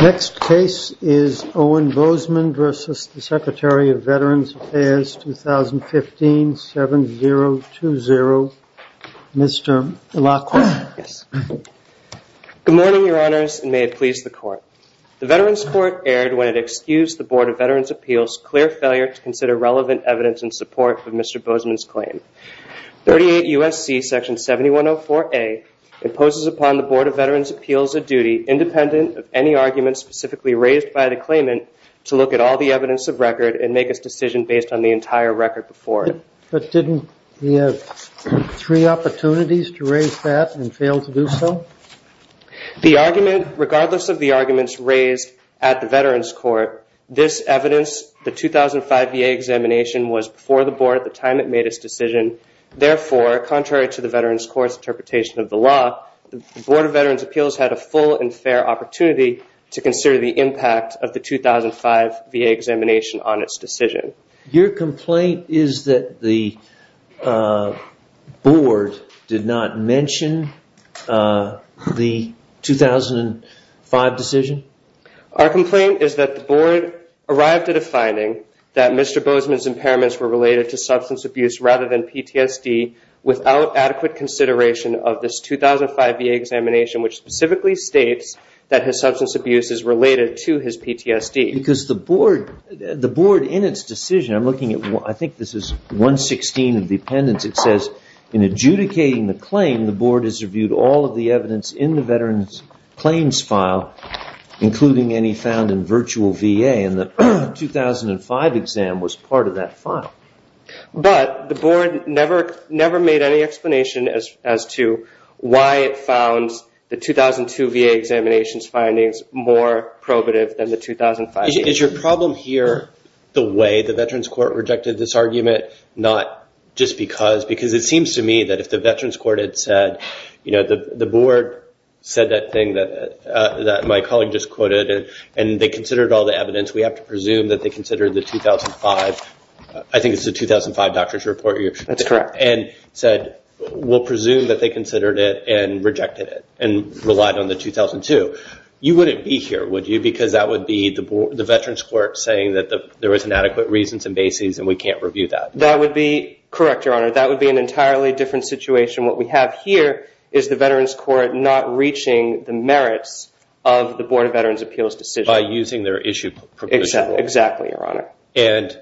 Next case is Owen Bozeman v. Secretary of Veterans Affairs, 2015, 7-0-2-0. Mr. Laqua. Good morning, Your Honors, and may it please the Court. The Veterans Court erred when it excused the Board of Veterans Appeals' clear failure to consider relevant evidence in support of Mr. Bozeman's claim. 38 U.S.C. Section 7104A imposes upon the Board of Veterans Appeals a duty, independent of any argument specifically raised by the claimant, to look at all the evidence of record and make a decision based on the entire record before it. But didn't he have three opportunities to raise that and fail to do so? The argument, regardless of the arguments raised at the Veterans Court, this evidence, the 2005 VA examination, was before the Board at the time it made its decision. Therefore, contrary to the Veterans Court's interpretation of the law, the Board of Veterans Appeals had a full and fair opportunity to consider the impact of the 2005 VA examination on its decision. Your complaint is that the Board did not mention the 2005 decision? Our complaint is that the Board arrived at a finding that Mr. Bozeman's impairments were related to substance abuse rather than PTSD without adequate consideration of this 2005 VA examination, which specifically states that his substance abuse is related to his PTSD. Because the Board, in its decision, I'm looking at, I think this is 116 of the appendix. It says, in adjudicating the claim, the Board has reviewed all of the evidence in the Veterans Claims File, including any found in virtual VA, and the 2005 exam was part of that file. But the Board never made any explanation as to why it found the 2002 VA examinations findings more probative than the 2005. Is your problem here the way the Veterans Court rejected this argument, not just because? Because it seems to me that if the Veterans Court had said, you know, the Board said that thing that my colleague just quoted, and they considered all the evidence, we have to presume that they considered the 2005. I think it's the 2005 doctor's report. That's correct. And said, we'll presume that they considered it and rejected it, and relied on the 2002. You wouldn't be here, would you? Because that would be the Veterans Court saying that there was inadequate reasons and bases, and we can't review that. That would be correct, Your Honor. That would be an entirely different situation. What we have here is the Veterans Court not reaching the merits of the Board of Veterans Appeals decision. By using their issue proposal. Exactly, Your Honor. And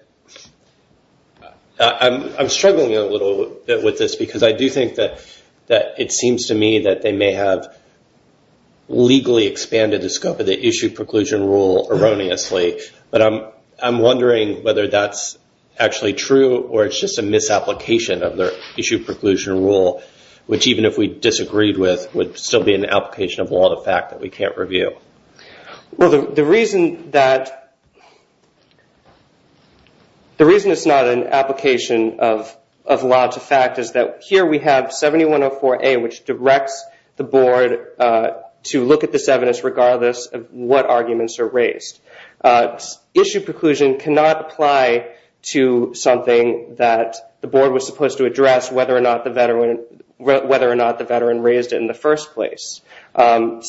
I'm struggling a little bit with this, because I do think that it seems to me that they may have legally expanded the scope of the issue preclusion rule erroneously. But I'm wondering whether that's actually true, or it's just a misapplication of their issue preclusion rule, which even if we disagreed with, would still be an application of law, the fact that we can't review. Well, the reason it's not an application of law to fact is that here we have 7104A, which directs the Board to look at this evidence regardless of what arguments are raised. Issue preclusion cannot apply to something that the Board was supposed to address, whether or not the veteran raised it in the first place. I'd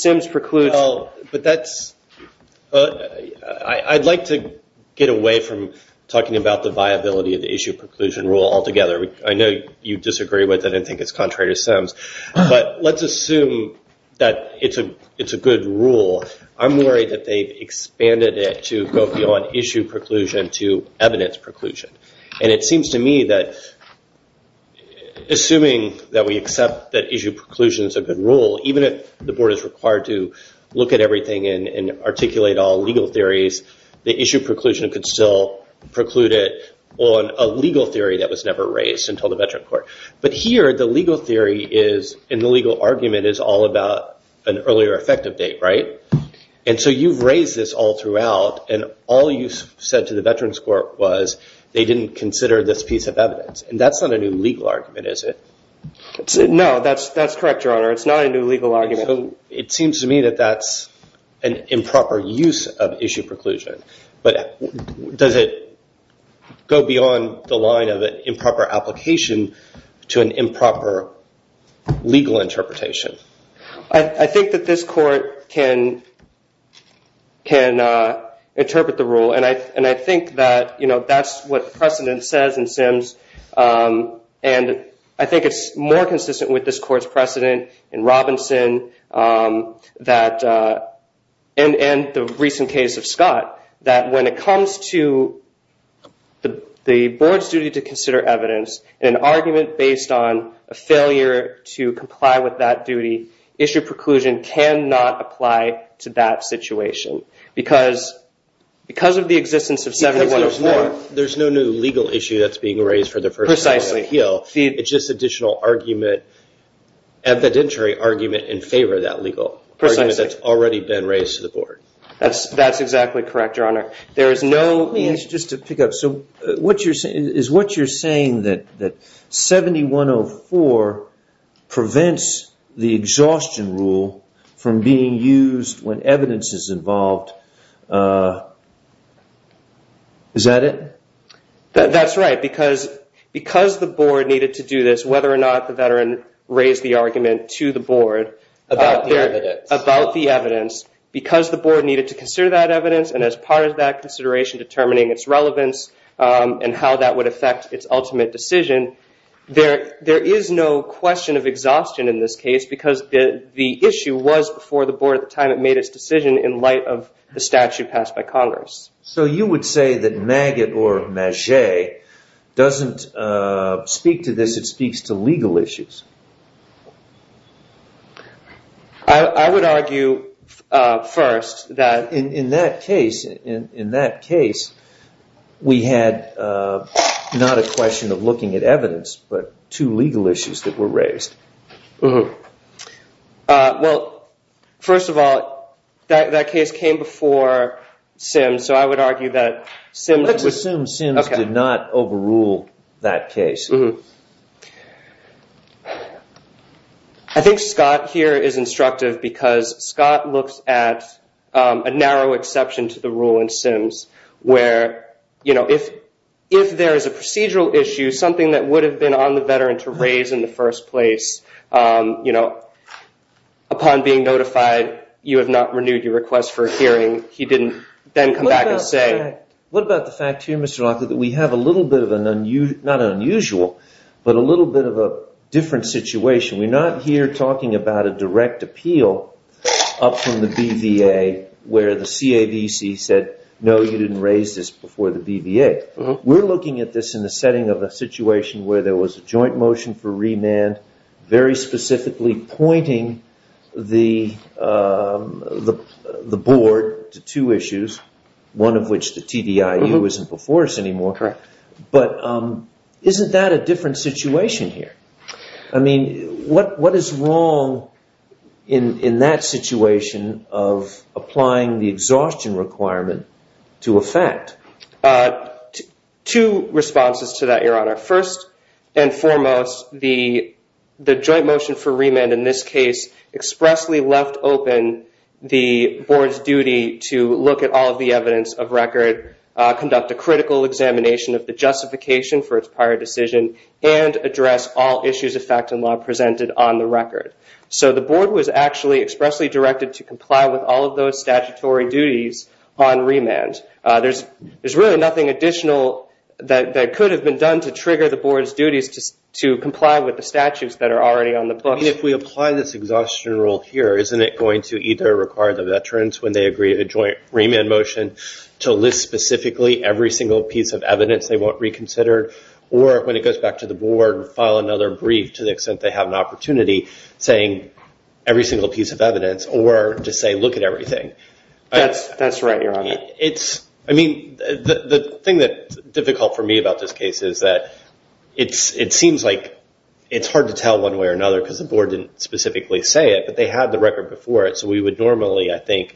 like to get away from talking about the viability of the issue preclusion rule altogether. I know you disagree with it, and I think it's contrary to Sims. But let's assume that it's a good rule. I'm worried that they've expanded it to go beyond issue preclusion to evidence preclusion. And it seems to me that assuming that we accept that issue preclusion is a good rule, even if the Board is required to look at everything and articulate all legal theories, the issue preclusion could still preclude it on a legal theory that was never raised until the veteran court. But here, the legal theory is, and the legal argument, is all about an earlier effective date, right? And so you've raised this all throughout, and all you said to the veterans court was they didn't consider this piece of evidence. And that's not a new legal argument, is it? No, that's correct, Your Honor. It's not a new legal argument. It seems to me that that's an improper use of issue preclusion. But does it go beyond the line of an improper application to an improper legal interpretation? I think that this court can interpret the rule. And I think that that's what precedent says in Sims. And I think it's more consistent with this court's precedent in Robinson and the recent case of Scott that when it comes to the Board's duty to consider evidence, an argument based on a failure to comply with that duty, issue preclusion cannot apply to that situation. Because of the existence of 7104... Because there's no new legal issue that's being raised for the first time on the Hill. It's just additional argument, evidentiary argument, in favor of that legal argument that's already been raised to the Board. That's exactly correct, Your Honor. Just to pick up, is what you're saying that 7104 prevents the exhaustion rule from being used when evidence is involved, is that it? That's right. Because the Board needed to do this, whether or not the veteran raised the argument to the Board... About the evidence. About the evidence, because the Board needed to consider that evidence and as part of that consideration determining its relevance and how that would affect its ultimate decision, there is no question of exhaustion in this case because the issue was before the Board at the time it made its decision in light of the statute passed by Congress. So you would say that Maggott or Maget doesn't speak to this, it speaks to legal issues? I would argue first that... In that case, we had not a question of looking at evidence, but two legal issues that were raised. Well, first of all, that case came before Sims, so I would argue that Sims... Let's assume Sims did not overrule that case. I think Scott here is instructive because Scott looks at a narrow exception to the rule in Sims where, you know, if there is a procedural issue, something that would have been on the veteran to raise in the first place, you know, upon being notified, you have not renewed your request for a hearing, he didn't then come back and say... What about the fact here, Mr. Lockwood, that we have a little bit of an unusual, not unusual, but a little bit of a different situation. We're not here talking about a direct appeal up from the BVA where the CAVC said, no, you didn't raise this before the BVA. We're looking at this in the setting of a situation where there was a joint motion for remand, very specifically pointing the board to two issues, one of which the TDIU isn't before us anymore, but isn't that a different situation here? I mean, what is wrong in that situation of applying the exhaustion requirement to effect? Two responses to that, Your Honor. First and foremost, the joint motion for remand in this case expressly left open the board's duty to look at all of the evidence of record, conduct a critical examination of the justification for its prior decision, and address all issues of fact and law presented on the record. So the board was actually expressly directed to comply with all of those statutory duties on remand. There's really nothing additional that could have been done to trigger the board's duties to comply with the statutes that are already on the book. If we apply this exhaustion rule here, isn't it going to either require the veterans, when they agree to a joint remand motion, to list specifically every single piece of evidence they want reconsidered, or when it goes back to the board, file another brief to the extent they have an opportunity, saying every single piece of evidence, or to say, look at everything? That's right, Your Honor. The thing that's difficult for me about this case is that it seems like it's hard to tell one way or another because the board didn't specifically say it, but they had the record before it, so we would normally, I think,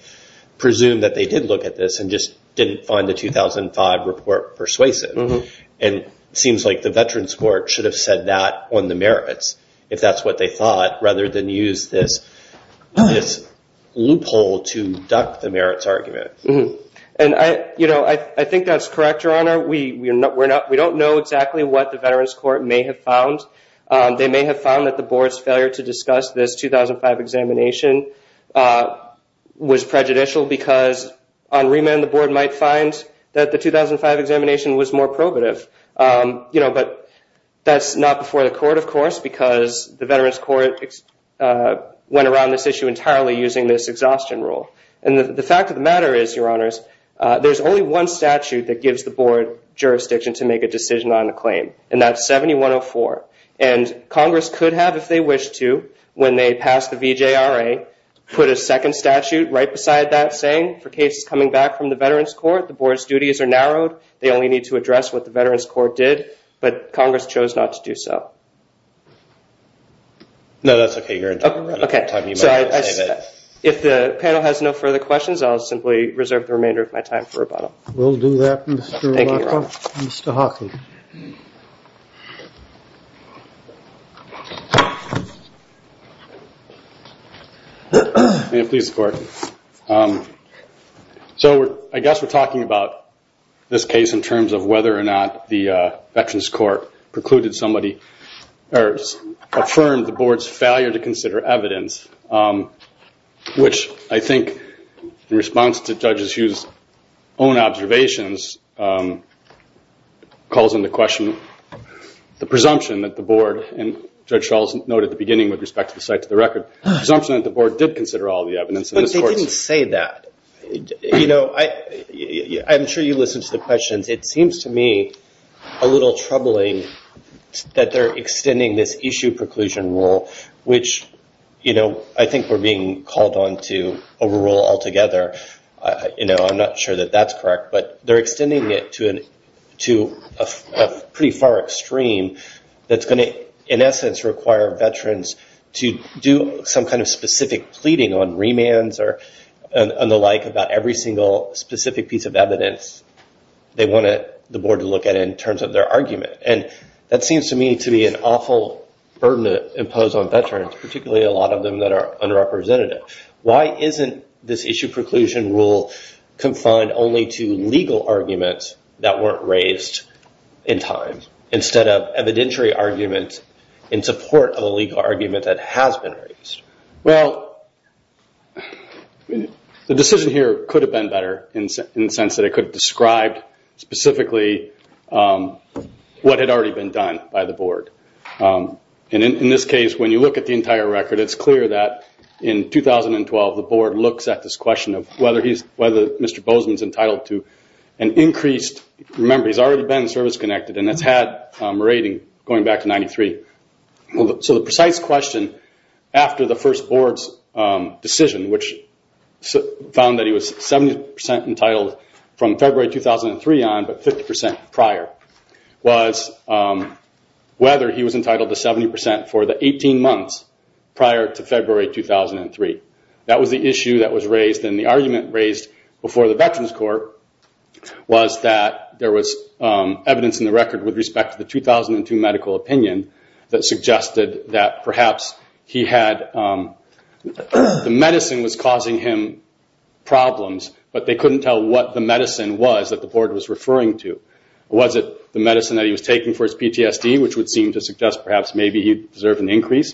presume that they did look at this and just didn't find the 2005 report persuasive. It seems like the veterans court should have said that on the merits, if that's what they thought, rather than use this loophole to duck the merits argument. I think that's correct, Your Honor. We don't know exactly what the veterans court may have found. They may have found that the board's failure to discuss this 2005 examination was prejudicial because on remand, the board might find that the 2005 examination was more probative. But that's not before the court, of course, because the veterans court went around this issue entirely using this exhaustion rule. The fact of the matter is, Your Honors, there's only one statute that gives the board jurisdiction to make a decision on a claim, and that's 7104. Congress could have, if they wish to, when they pass the VJRA, put a second statute right beside that saying, for cases coming back from the veterans court, the board's duties are narrowed. They only need to address what the veterans court did, but Congress chose not to do so. No, that's okay, Your Honor. If the panel has no further questions, I'll simply reserve the remainder of my time for rebuttal. We'll do that, Mr. Rocha. Thank you, Your Honor. in terms of whether or not the veterans court precluded somebody or affirmed the board's failure to consider evidence, which I think, in response to Judge Hughes' own observations, calls into question the presumption that the board, and Judge Schall's note at the beginning with respect to the site to the record, the presumption that the board did consider all the evidence. But they didn't say that. I'm sure you listened to the questions. It seems to me a little troubling that they're extending this issue preclusion rule, which I think we're being called on to overrule altogether. I'm not sure that that's correct, but they're extending it to a pretty far extreme that's going to, in essence, require veterans to do some kind of specific pleading on remands and the like about every single specific piece of evidence they want the board to look at in terms of their argument. That seems to me to be an awful burden to impose on veterans, particularly a lot of them that are underrepresented. Why isn't this issue preclusion rule confined only to legal arguments that weren't raised in time instead of evidentiary arguments in support of a legal argument that has been raised? Well, the decision here could have been better in the sense that it could have described specifically what had already been done by the board. In this case, when you look at the entire record, it's clear that in 2012, the board looks at this question of whether Mr. Bozeman is entitled to an increased... Remember, he's already been service-connected and has had a rating going back to 93. The precise question after the first board's decision, which found that he was 70% entitled from February 2003 on, but 50% prior, was whether he was entitled to 70% for the 18 months prior to February 2003. That was the issue that was raised and the argument raised before the veterans court was that there was evidence in the record with respect to the 2002 medical opinion that suggested that perhaps he had... The medicine was causing him problems, but they couldn't tell what the medicine was that the board was referring to. Was it the medicine that he was taking for his PTSD, which would seem to suggest perhaps maybe he deserved an increase,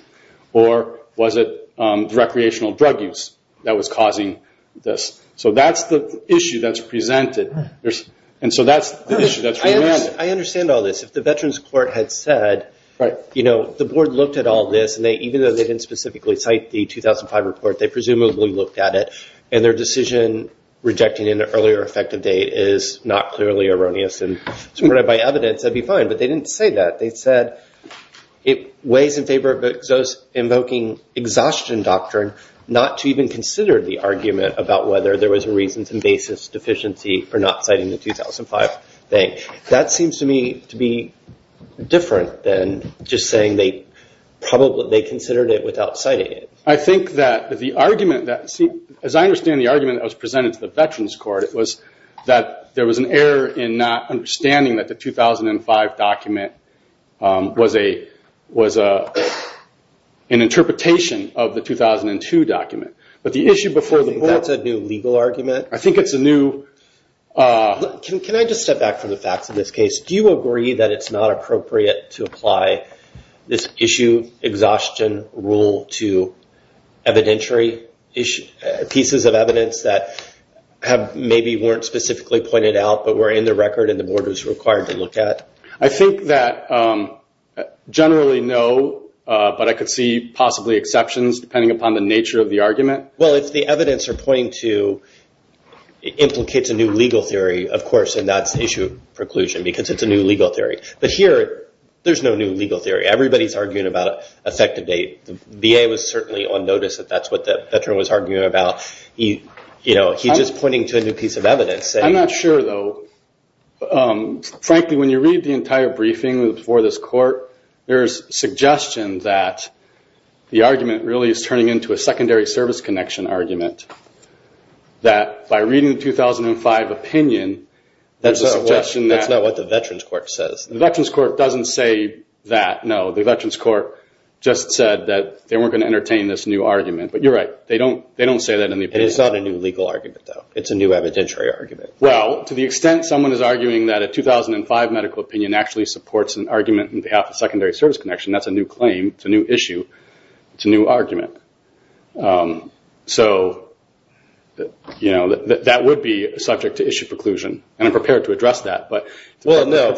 or was it recreational drug use that was causing this? That's the issue that's presented. That's the issue that's... I understand all this. If the veterans court had said, the board looked at all this, and even though they didn't specifically cite the 2005 report, they presumably looked at it, and their decision rejecting an earlier effective date is not clearly erroneous and supported by evidence, that'd be fine. They didn't say that. They said it weighs in favor of invoking exhaustion doctrine not to even consider the argument about whether there was a reasons and basis deficiency for not citing the 2005 thing. That seems to me to be different than just saying they considered it without citing it. I think that the argument that... As I understand the argument that was presented to the veterans court, it was that there was an error in not understanding that the 2005 document was an interpretation of the 2002 document. But the issue before the board... You think that's a new legal argument? I think it's a new... Can I just step back from the facts in this case? Do you agree that it's not appropriate to apply this issue exhaustion rule to evidentiary pieces of evidence that maybe weren't specifically pointed out but were in the record and the board was required to look at? I think that generally no, but I could see possibly exceptions depending upon the nature of the argument. Well, it's the evidence they're pointing to implicates a new legal theory, of course, and that's the issue of preclusion because it's a new legal theory. But here, there's no new legal theory. Everybody's arguing about effective date. The VA was certainly on notice that that's what the veteran was arguing about. He's just pointing to a new piece of evidence. I'm not sure, though. Frankly, when you read the entire briefing before this court, there's suggestion that the argument really is turning into a secondary service connection argument, that by reading the 2005 opinion, there's a suggestion that... That's not what the veterans court says. The veterans court doesn't say that, no. The veterans court just said that they weren't going to entertain this new argument. But you're right. They don't say that in the opinion. It's not a new legal argument, though. It's a new evidentiary argument. Well, to the extent someone is arguing that a 2005 medical opinion actually supports an argument on behalf of secondary service connection, that's a new claim. It's a new issue. It's a new argument. So that would be subject to issue preclusion, and I'm prepared to address that. Well, no.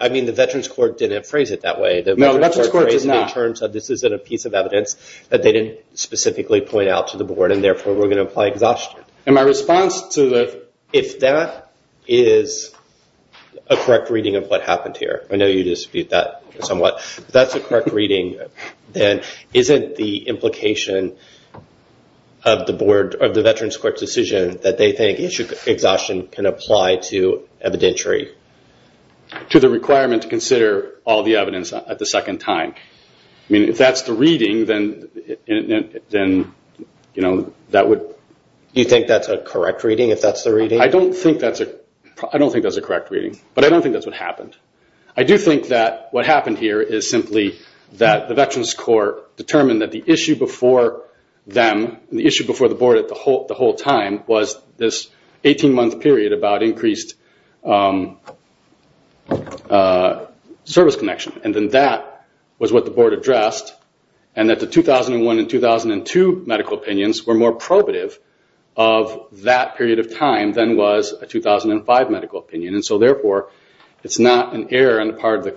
I mean, the veterans court didn't phrase it that way. The veterans court phrased it in terms of this isn't a piece of evidence that they didn't specifically point out to the board, and therefore, we're going to apply exhaustion. And my response to the... If that is a correct reading of what happened here, I know you dispute that somewhat. If that's a correct reading, then isn't the implication of the veterans court decision that they think issue exhaustion can apply to evidentiary? To the requirement to consider all the evidence at the second time. I mean, if that's the reading, then that would... You think that's a correct reading, if that's the reading? I don't think that's a correct reading, but I don't think that's what happened. I do think that what happened here is simply that the veterans court determined that the issue before them, the issue before the board the whole time, was this 18-month period about increased service connection. And then that was what the board addressed, and that the 2001 and 2002 medical opinions were more probative of that period of time than was a 2005 medical opinion. And so therefore, it's not an error on the part of the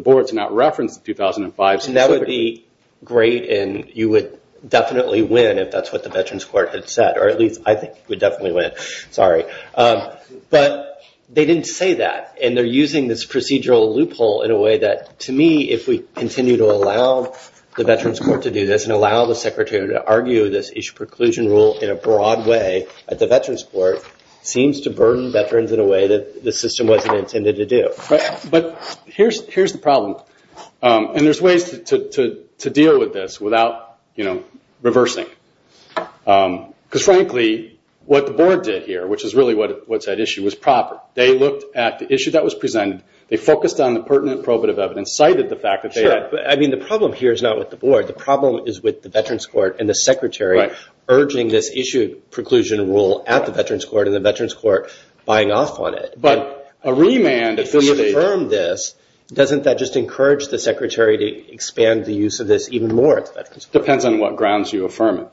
board to not reference the 2005... That would be great, and you would definitely win if that's what the veterans court had said, or at least I think you would definitely win. Sorry. But they didn't say that, and they're using this procedural loophole in a way that, to me, if we continue to allow the veterans court to do this, and allow the secretary to argue this issue preclusion rule in a broad way at the veterans court, seems to burden veterans in a way that the system wasn't intended to do. But here's the problem, and there's ways to deal with this without reversing. Because frankly, what the board did here, which is really what's at issue, was proper. They looked at the issue that was presented. They focused on the pertinent probative evidence, cited the fact that they had... Sure, but the problem here is not with the board. The problem is with the veterans court and the secretary urging this issue preclusion rule at the veterans court, and the veterans court buying off on it. But a remand... If we affirm this, doesn't that just encourage the secretary to expand the use of this even more at the veterans court? Depends on what grounds you affirm it.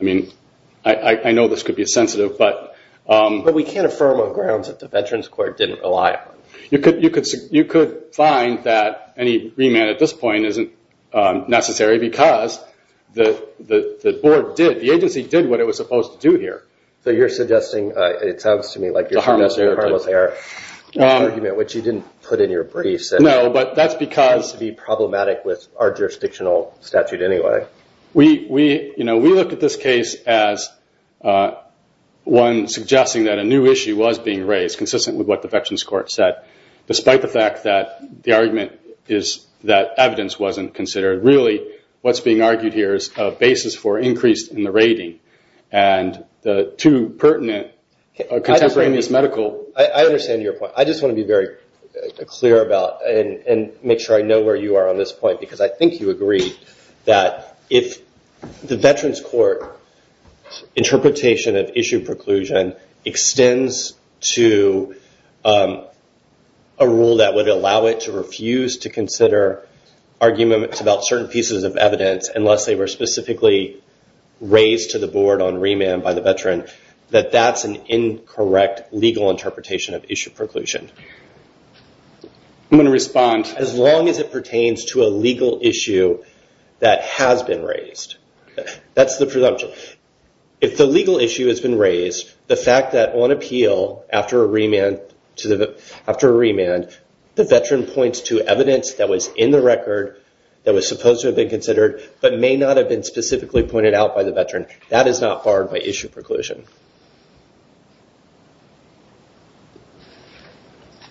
I mean, I know this could be sensitive, but... But we can't affirm on grounds that the veterans court didn't rely on. You could find that any remand at this point isn't necessary because the board did, the agency did what it was supposed to do here. So you're suggesting, it sounds to me like you're suggesting a harmless error, which you didn't put in your briefs. No, but that's because... It seems to be problematic with our jurisdictional statute anyway. We looked at this case as one suggesting that a new issue was being raised, consistent with what the veterans court said, despite the fact that the argument is that evidence wasn't considered. Really, what's being argued here is a basis for increase in the rating, and the two pertinent contemporaneous medical... And make sure I know where you are on this point, because I think you agree that if the veterans court interpretation of issue preclusion extends to a rule that would allow it to refuse to consider arguments about certain pieces of evidence, unless they were specifically raised to the board on remand by the veteran, that that's an incorrect legal interpretation of issue preclusion. I'm going to respond. As long as it pertains to a legal issue that has been raised. That's the presumption. If the legal issue has been raised, the fact that on appeal, after a remand, the veteran points to evidence that was in the record, that was supposed to have been considered, but may not have been specifically pointed out by the veteran, that is not barred by issue preclusion.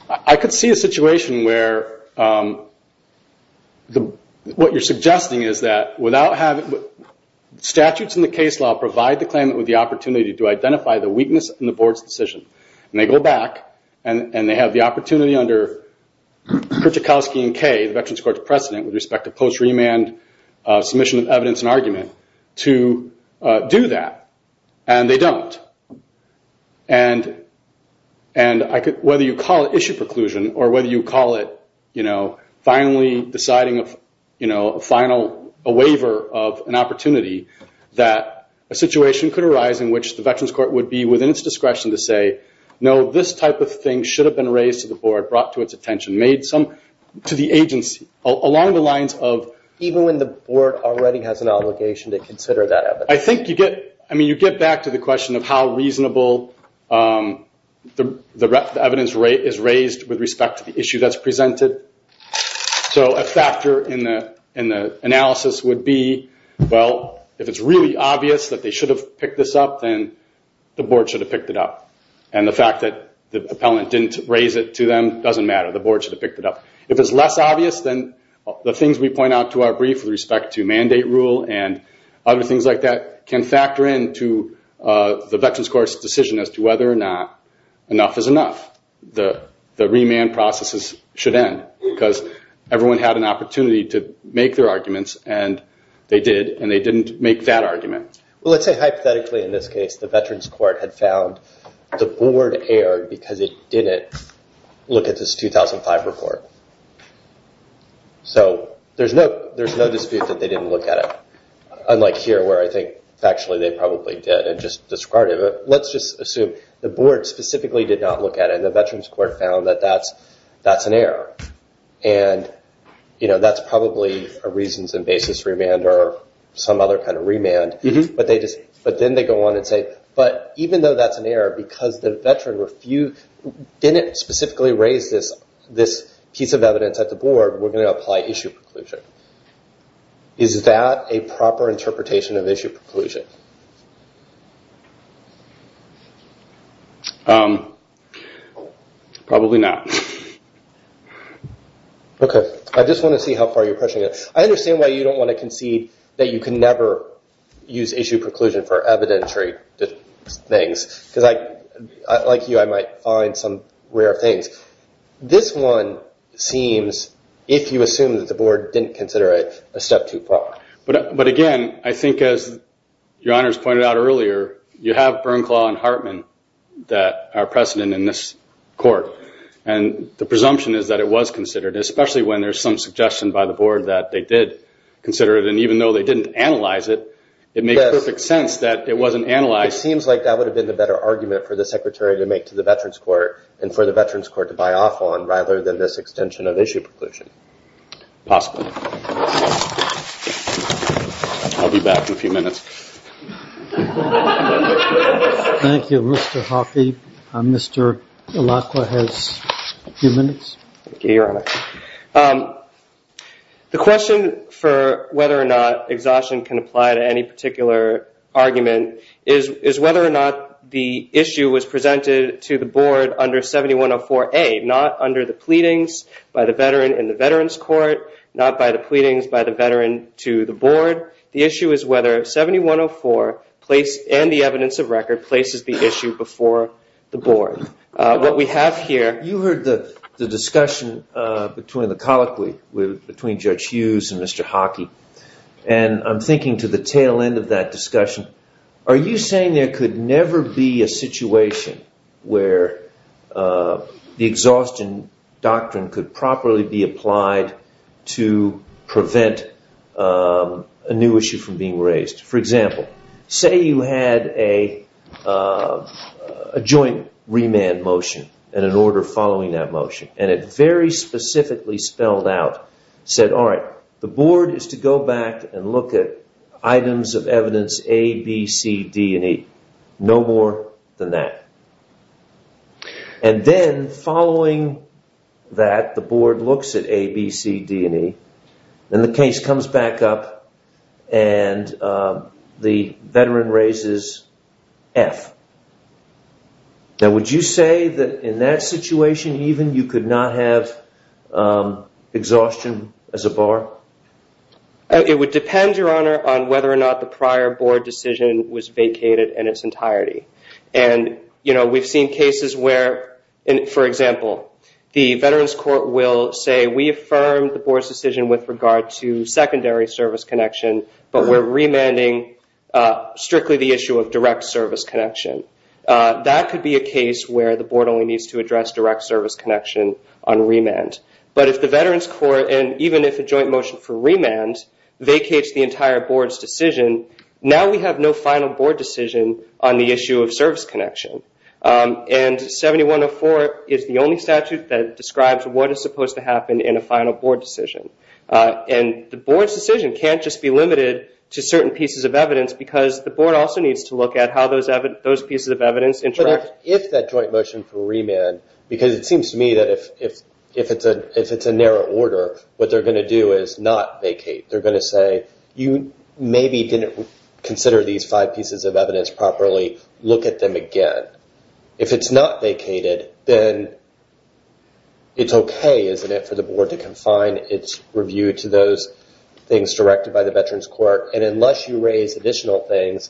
I could see a situation where what you're suggesting is that without having... Statutes in the case law provide the claimant with the opportunity to identify the weakness in the board's decision. And they go back, and they have the opportunity under Krzykowski and Kay, the veterans court's precedent with respect to post-remand submission of evidence and argument, to do that. And they don't. And whether you call it issue preclusion, or whether you call it finally deciding a waiver of an opportunity, that a situation could arise in which the veterans court would be within its discretion to say, no, this type of thing should have been raised to the board, brought to its attention, made some... To the agency, along the lines of... Even when the board already has an obligation to consider that evidence. I think you get... I mean, you get back to the question of how reasonable the evidence rate is raised with respect to the issue that's presented. So a factor in the analysis would be, well, if it's really obvious that they should have picked this up, then the board should have picked it up. And the fact that the appellant didn't raise it to them doesn't matter. The board should have picked it up. If it's less obvious, then the things we point out to our brief with respect to mandate rule and other things like that, can factor into the veterans court's decision as to whether or not enough is enough. The remand processes should end because everyone had an opportunity to make their arguments, and they did, and they didn't make that argument. Well, let's say hypothetically in this case, the veterans court had found the board error because it didn't look at this 2005 report. So there's no dispute that they didn't look at it, unlike here where I think factually they probably did and just discarded it. But let's just assume the board specifically did not look at it, and the veterans court found that that's an error. And that's probably a reasons and basis remand or some other kind of remand. But then they go on and say, but even though that's an error, because the veteran didn't specifically raise this piece of evidence at the board, we're going to apply issue preclusion. Is that a proper interpretation of issue preclusion? Probably not. Okay. I just want to see how far you're pushing it. I understand why you don't want to concede that you can never use issue preclusion for evidentiary things. Because like you, I might find some rare things. This one seems, if you assume that the board didn't consider it, a step too far. But again, I think as your honors pointed out earlier, you have Bernklaw and Hartman that are precedent in this court. And the presumption is that it was considered, especially when there's some suggestion by the board that they did consider it. And even though they didn't analyze it, it makes perfect sense that it wasn't analyzed. It seems like that would have been the better argument for the secretary to make to the veterans court and for the veterans court to buy off on rather than this extension of issue preclusion. Possibly. I'll be back in a few minutes. Thank you, Mr. Hoffey. Mr. Alacla has a few minutes. Thank you, your honor. The question for whether or not exhaustion can apply to any particular argument is whether or not the issue was presented to the board under 7104A, not under the pleadings by the veteran in the veterans court, not by the pleadings by the veteran to the board. The issue is whether 7104 and the evidence of record places the issue before the board. What we have here. You heard the discussion between the colloquy between Judge Hughes and Mr. Hockey. And I'm thinking to the tail end of that discussion, are you saying there could never be a situation where the exhaustion doctrine could properly be applied to prevent a new issue from being raised? For example, say you had a joint remand motion and an order following that motion. And it very specifically spelled out, said, all right, the board is to go back and look at items of evidence A, B, C, D, and E. No more than that. And then following that, the board looks at A, B, C, D, and E. And the case comes back up and the veteran raises F. Now, would you say that in that situation even you could not have exhaustion as a bar? It would depend, your honor, on whether or not the prior board decision was vacated in its entirety. And we've seen cases where, for example, the veterans court will say, we affirm the board's decision with regard to secondary service connection, but we're remanding strictly the issue of direct service connection. That could be a case where the board only needs to address direct service connection on remand. But if the veterans court, and even if a joint motion for remand vacates the entire board's decision, now we have no final board decision on the issue of service connection. And 7104 is the only statute that describes what is supposed to happen in a final board decision. And the board's decision can't just be limited to certain pieces of evidence because the board also needs to look at how those pieces of evidence interact. But if that joint motion for remand, because it seems to me that if it's a narrow order, what they're going to do is not vacate. They're going to say, you maybe didn't consider these five pieces of evidence properly. Look at them again. If it's not vacated, then it's okay, isn't it, for the board to confine its review to those things directed by the veterans court. And unless you raise additional things,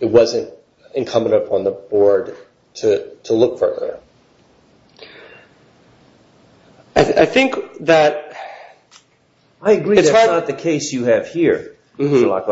it wasn't incumbent upon the board to look further. I agree that's not the case you have here. I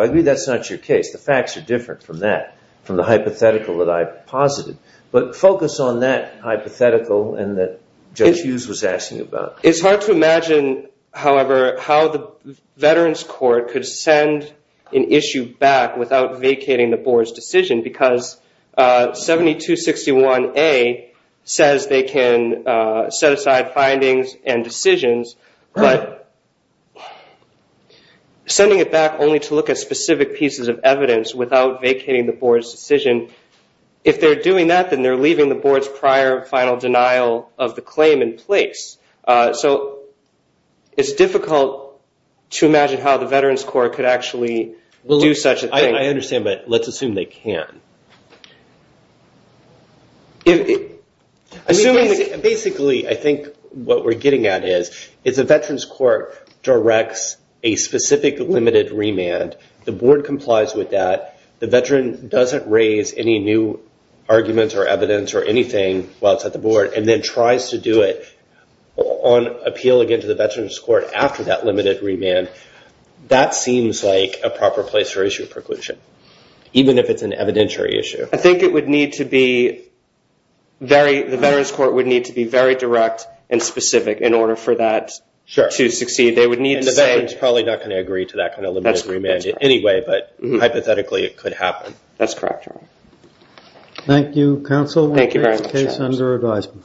agree that's not your case. The facts are different from that, from the hypothetical that I posited. But focus on that hypothetical and that Judge Hughes was asking about. It's hard to imagine, however, how the veterans court could send an issue back without vacating the board's decision because 7261A says they can set aside findings and decisions, but sending it back only to look at specific pieces of evidence without vacating the board's decision, if they're doing that, then they're leaving the board's prior final denial of the claim in place. So it's difficult to imagine how the veterans court could actually do such a thing. I understand, but let's assume they can. Basically, I think what we're getting at is the veterans court directs a specific limited remand. The board complies with that. The veteran doesn't raise any new arguments or evidence or anything while it's at the board and then tries to do it on appeal again to the veterans court after that limited remand. That seems like a proper place for issue preclusion, even if it's an evidentiary issue. I think the veterans court would need to be very direct and specific in order for that to succeed. And the veterans probably not going to agree to that kind of limited remand anyway, but hypothetically it could happen. That's correct, Your Honor. Thank you, counsel. Thank you very much. Case under advisement.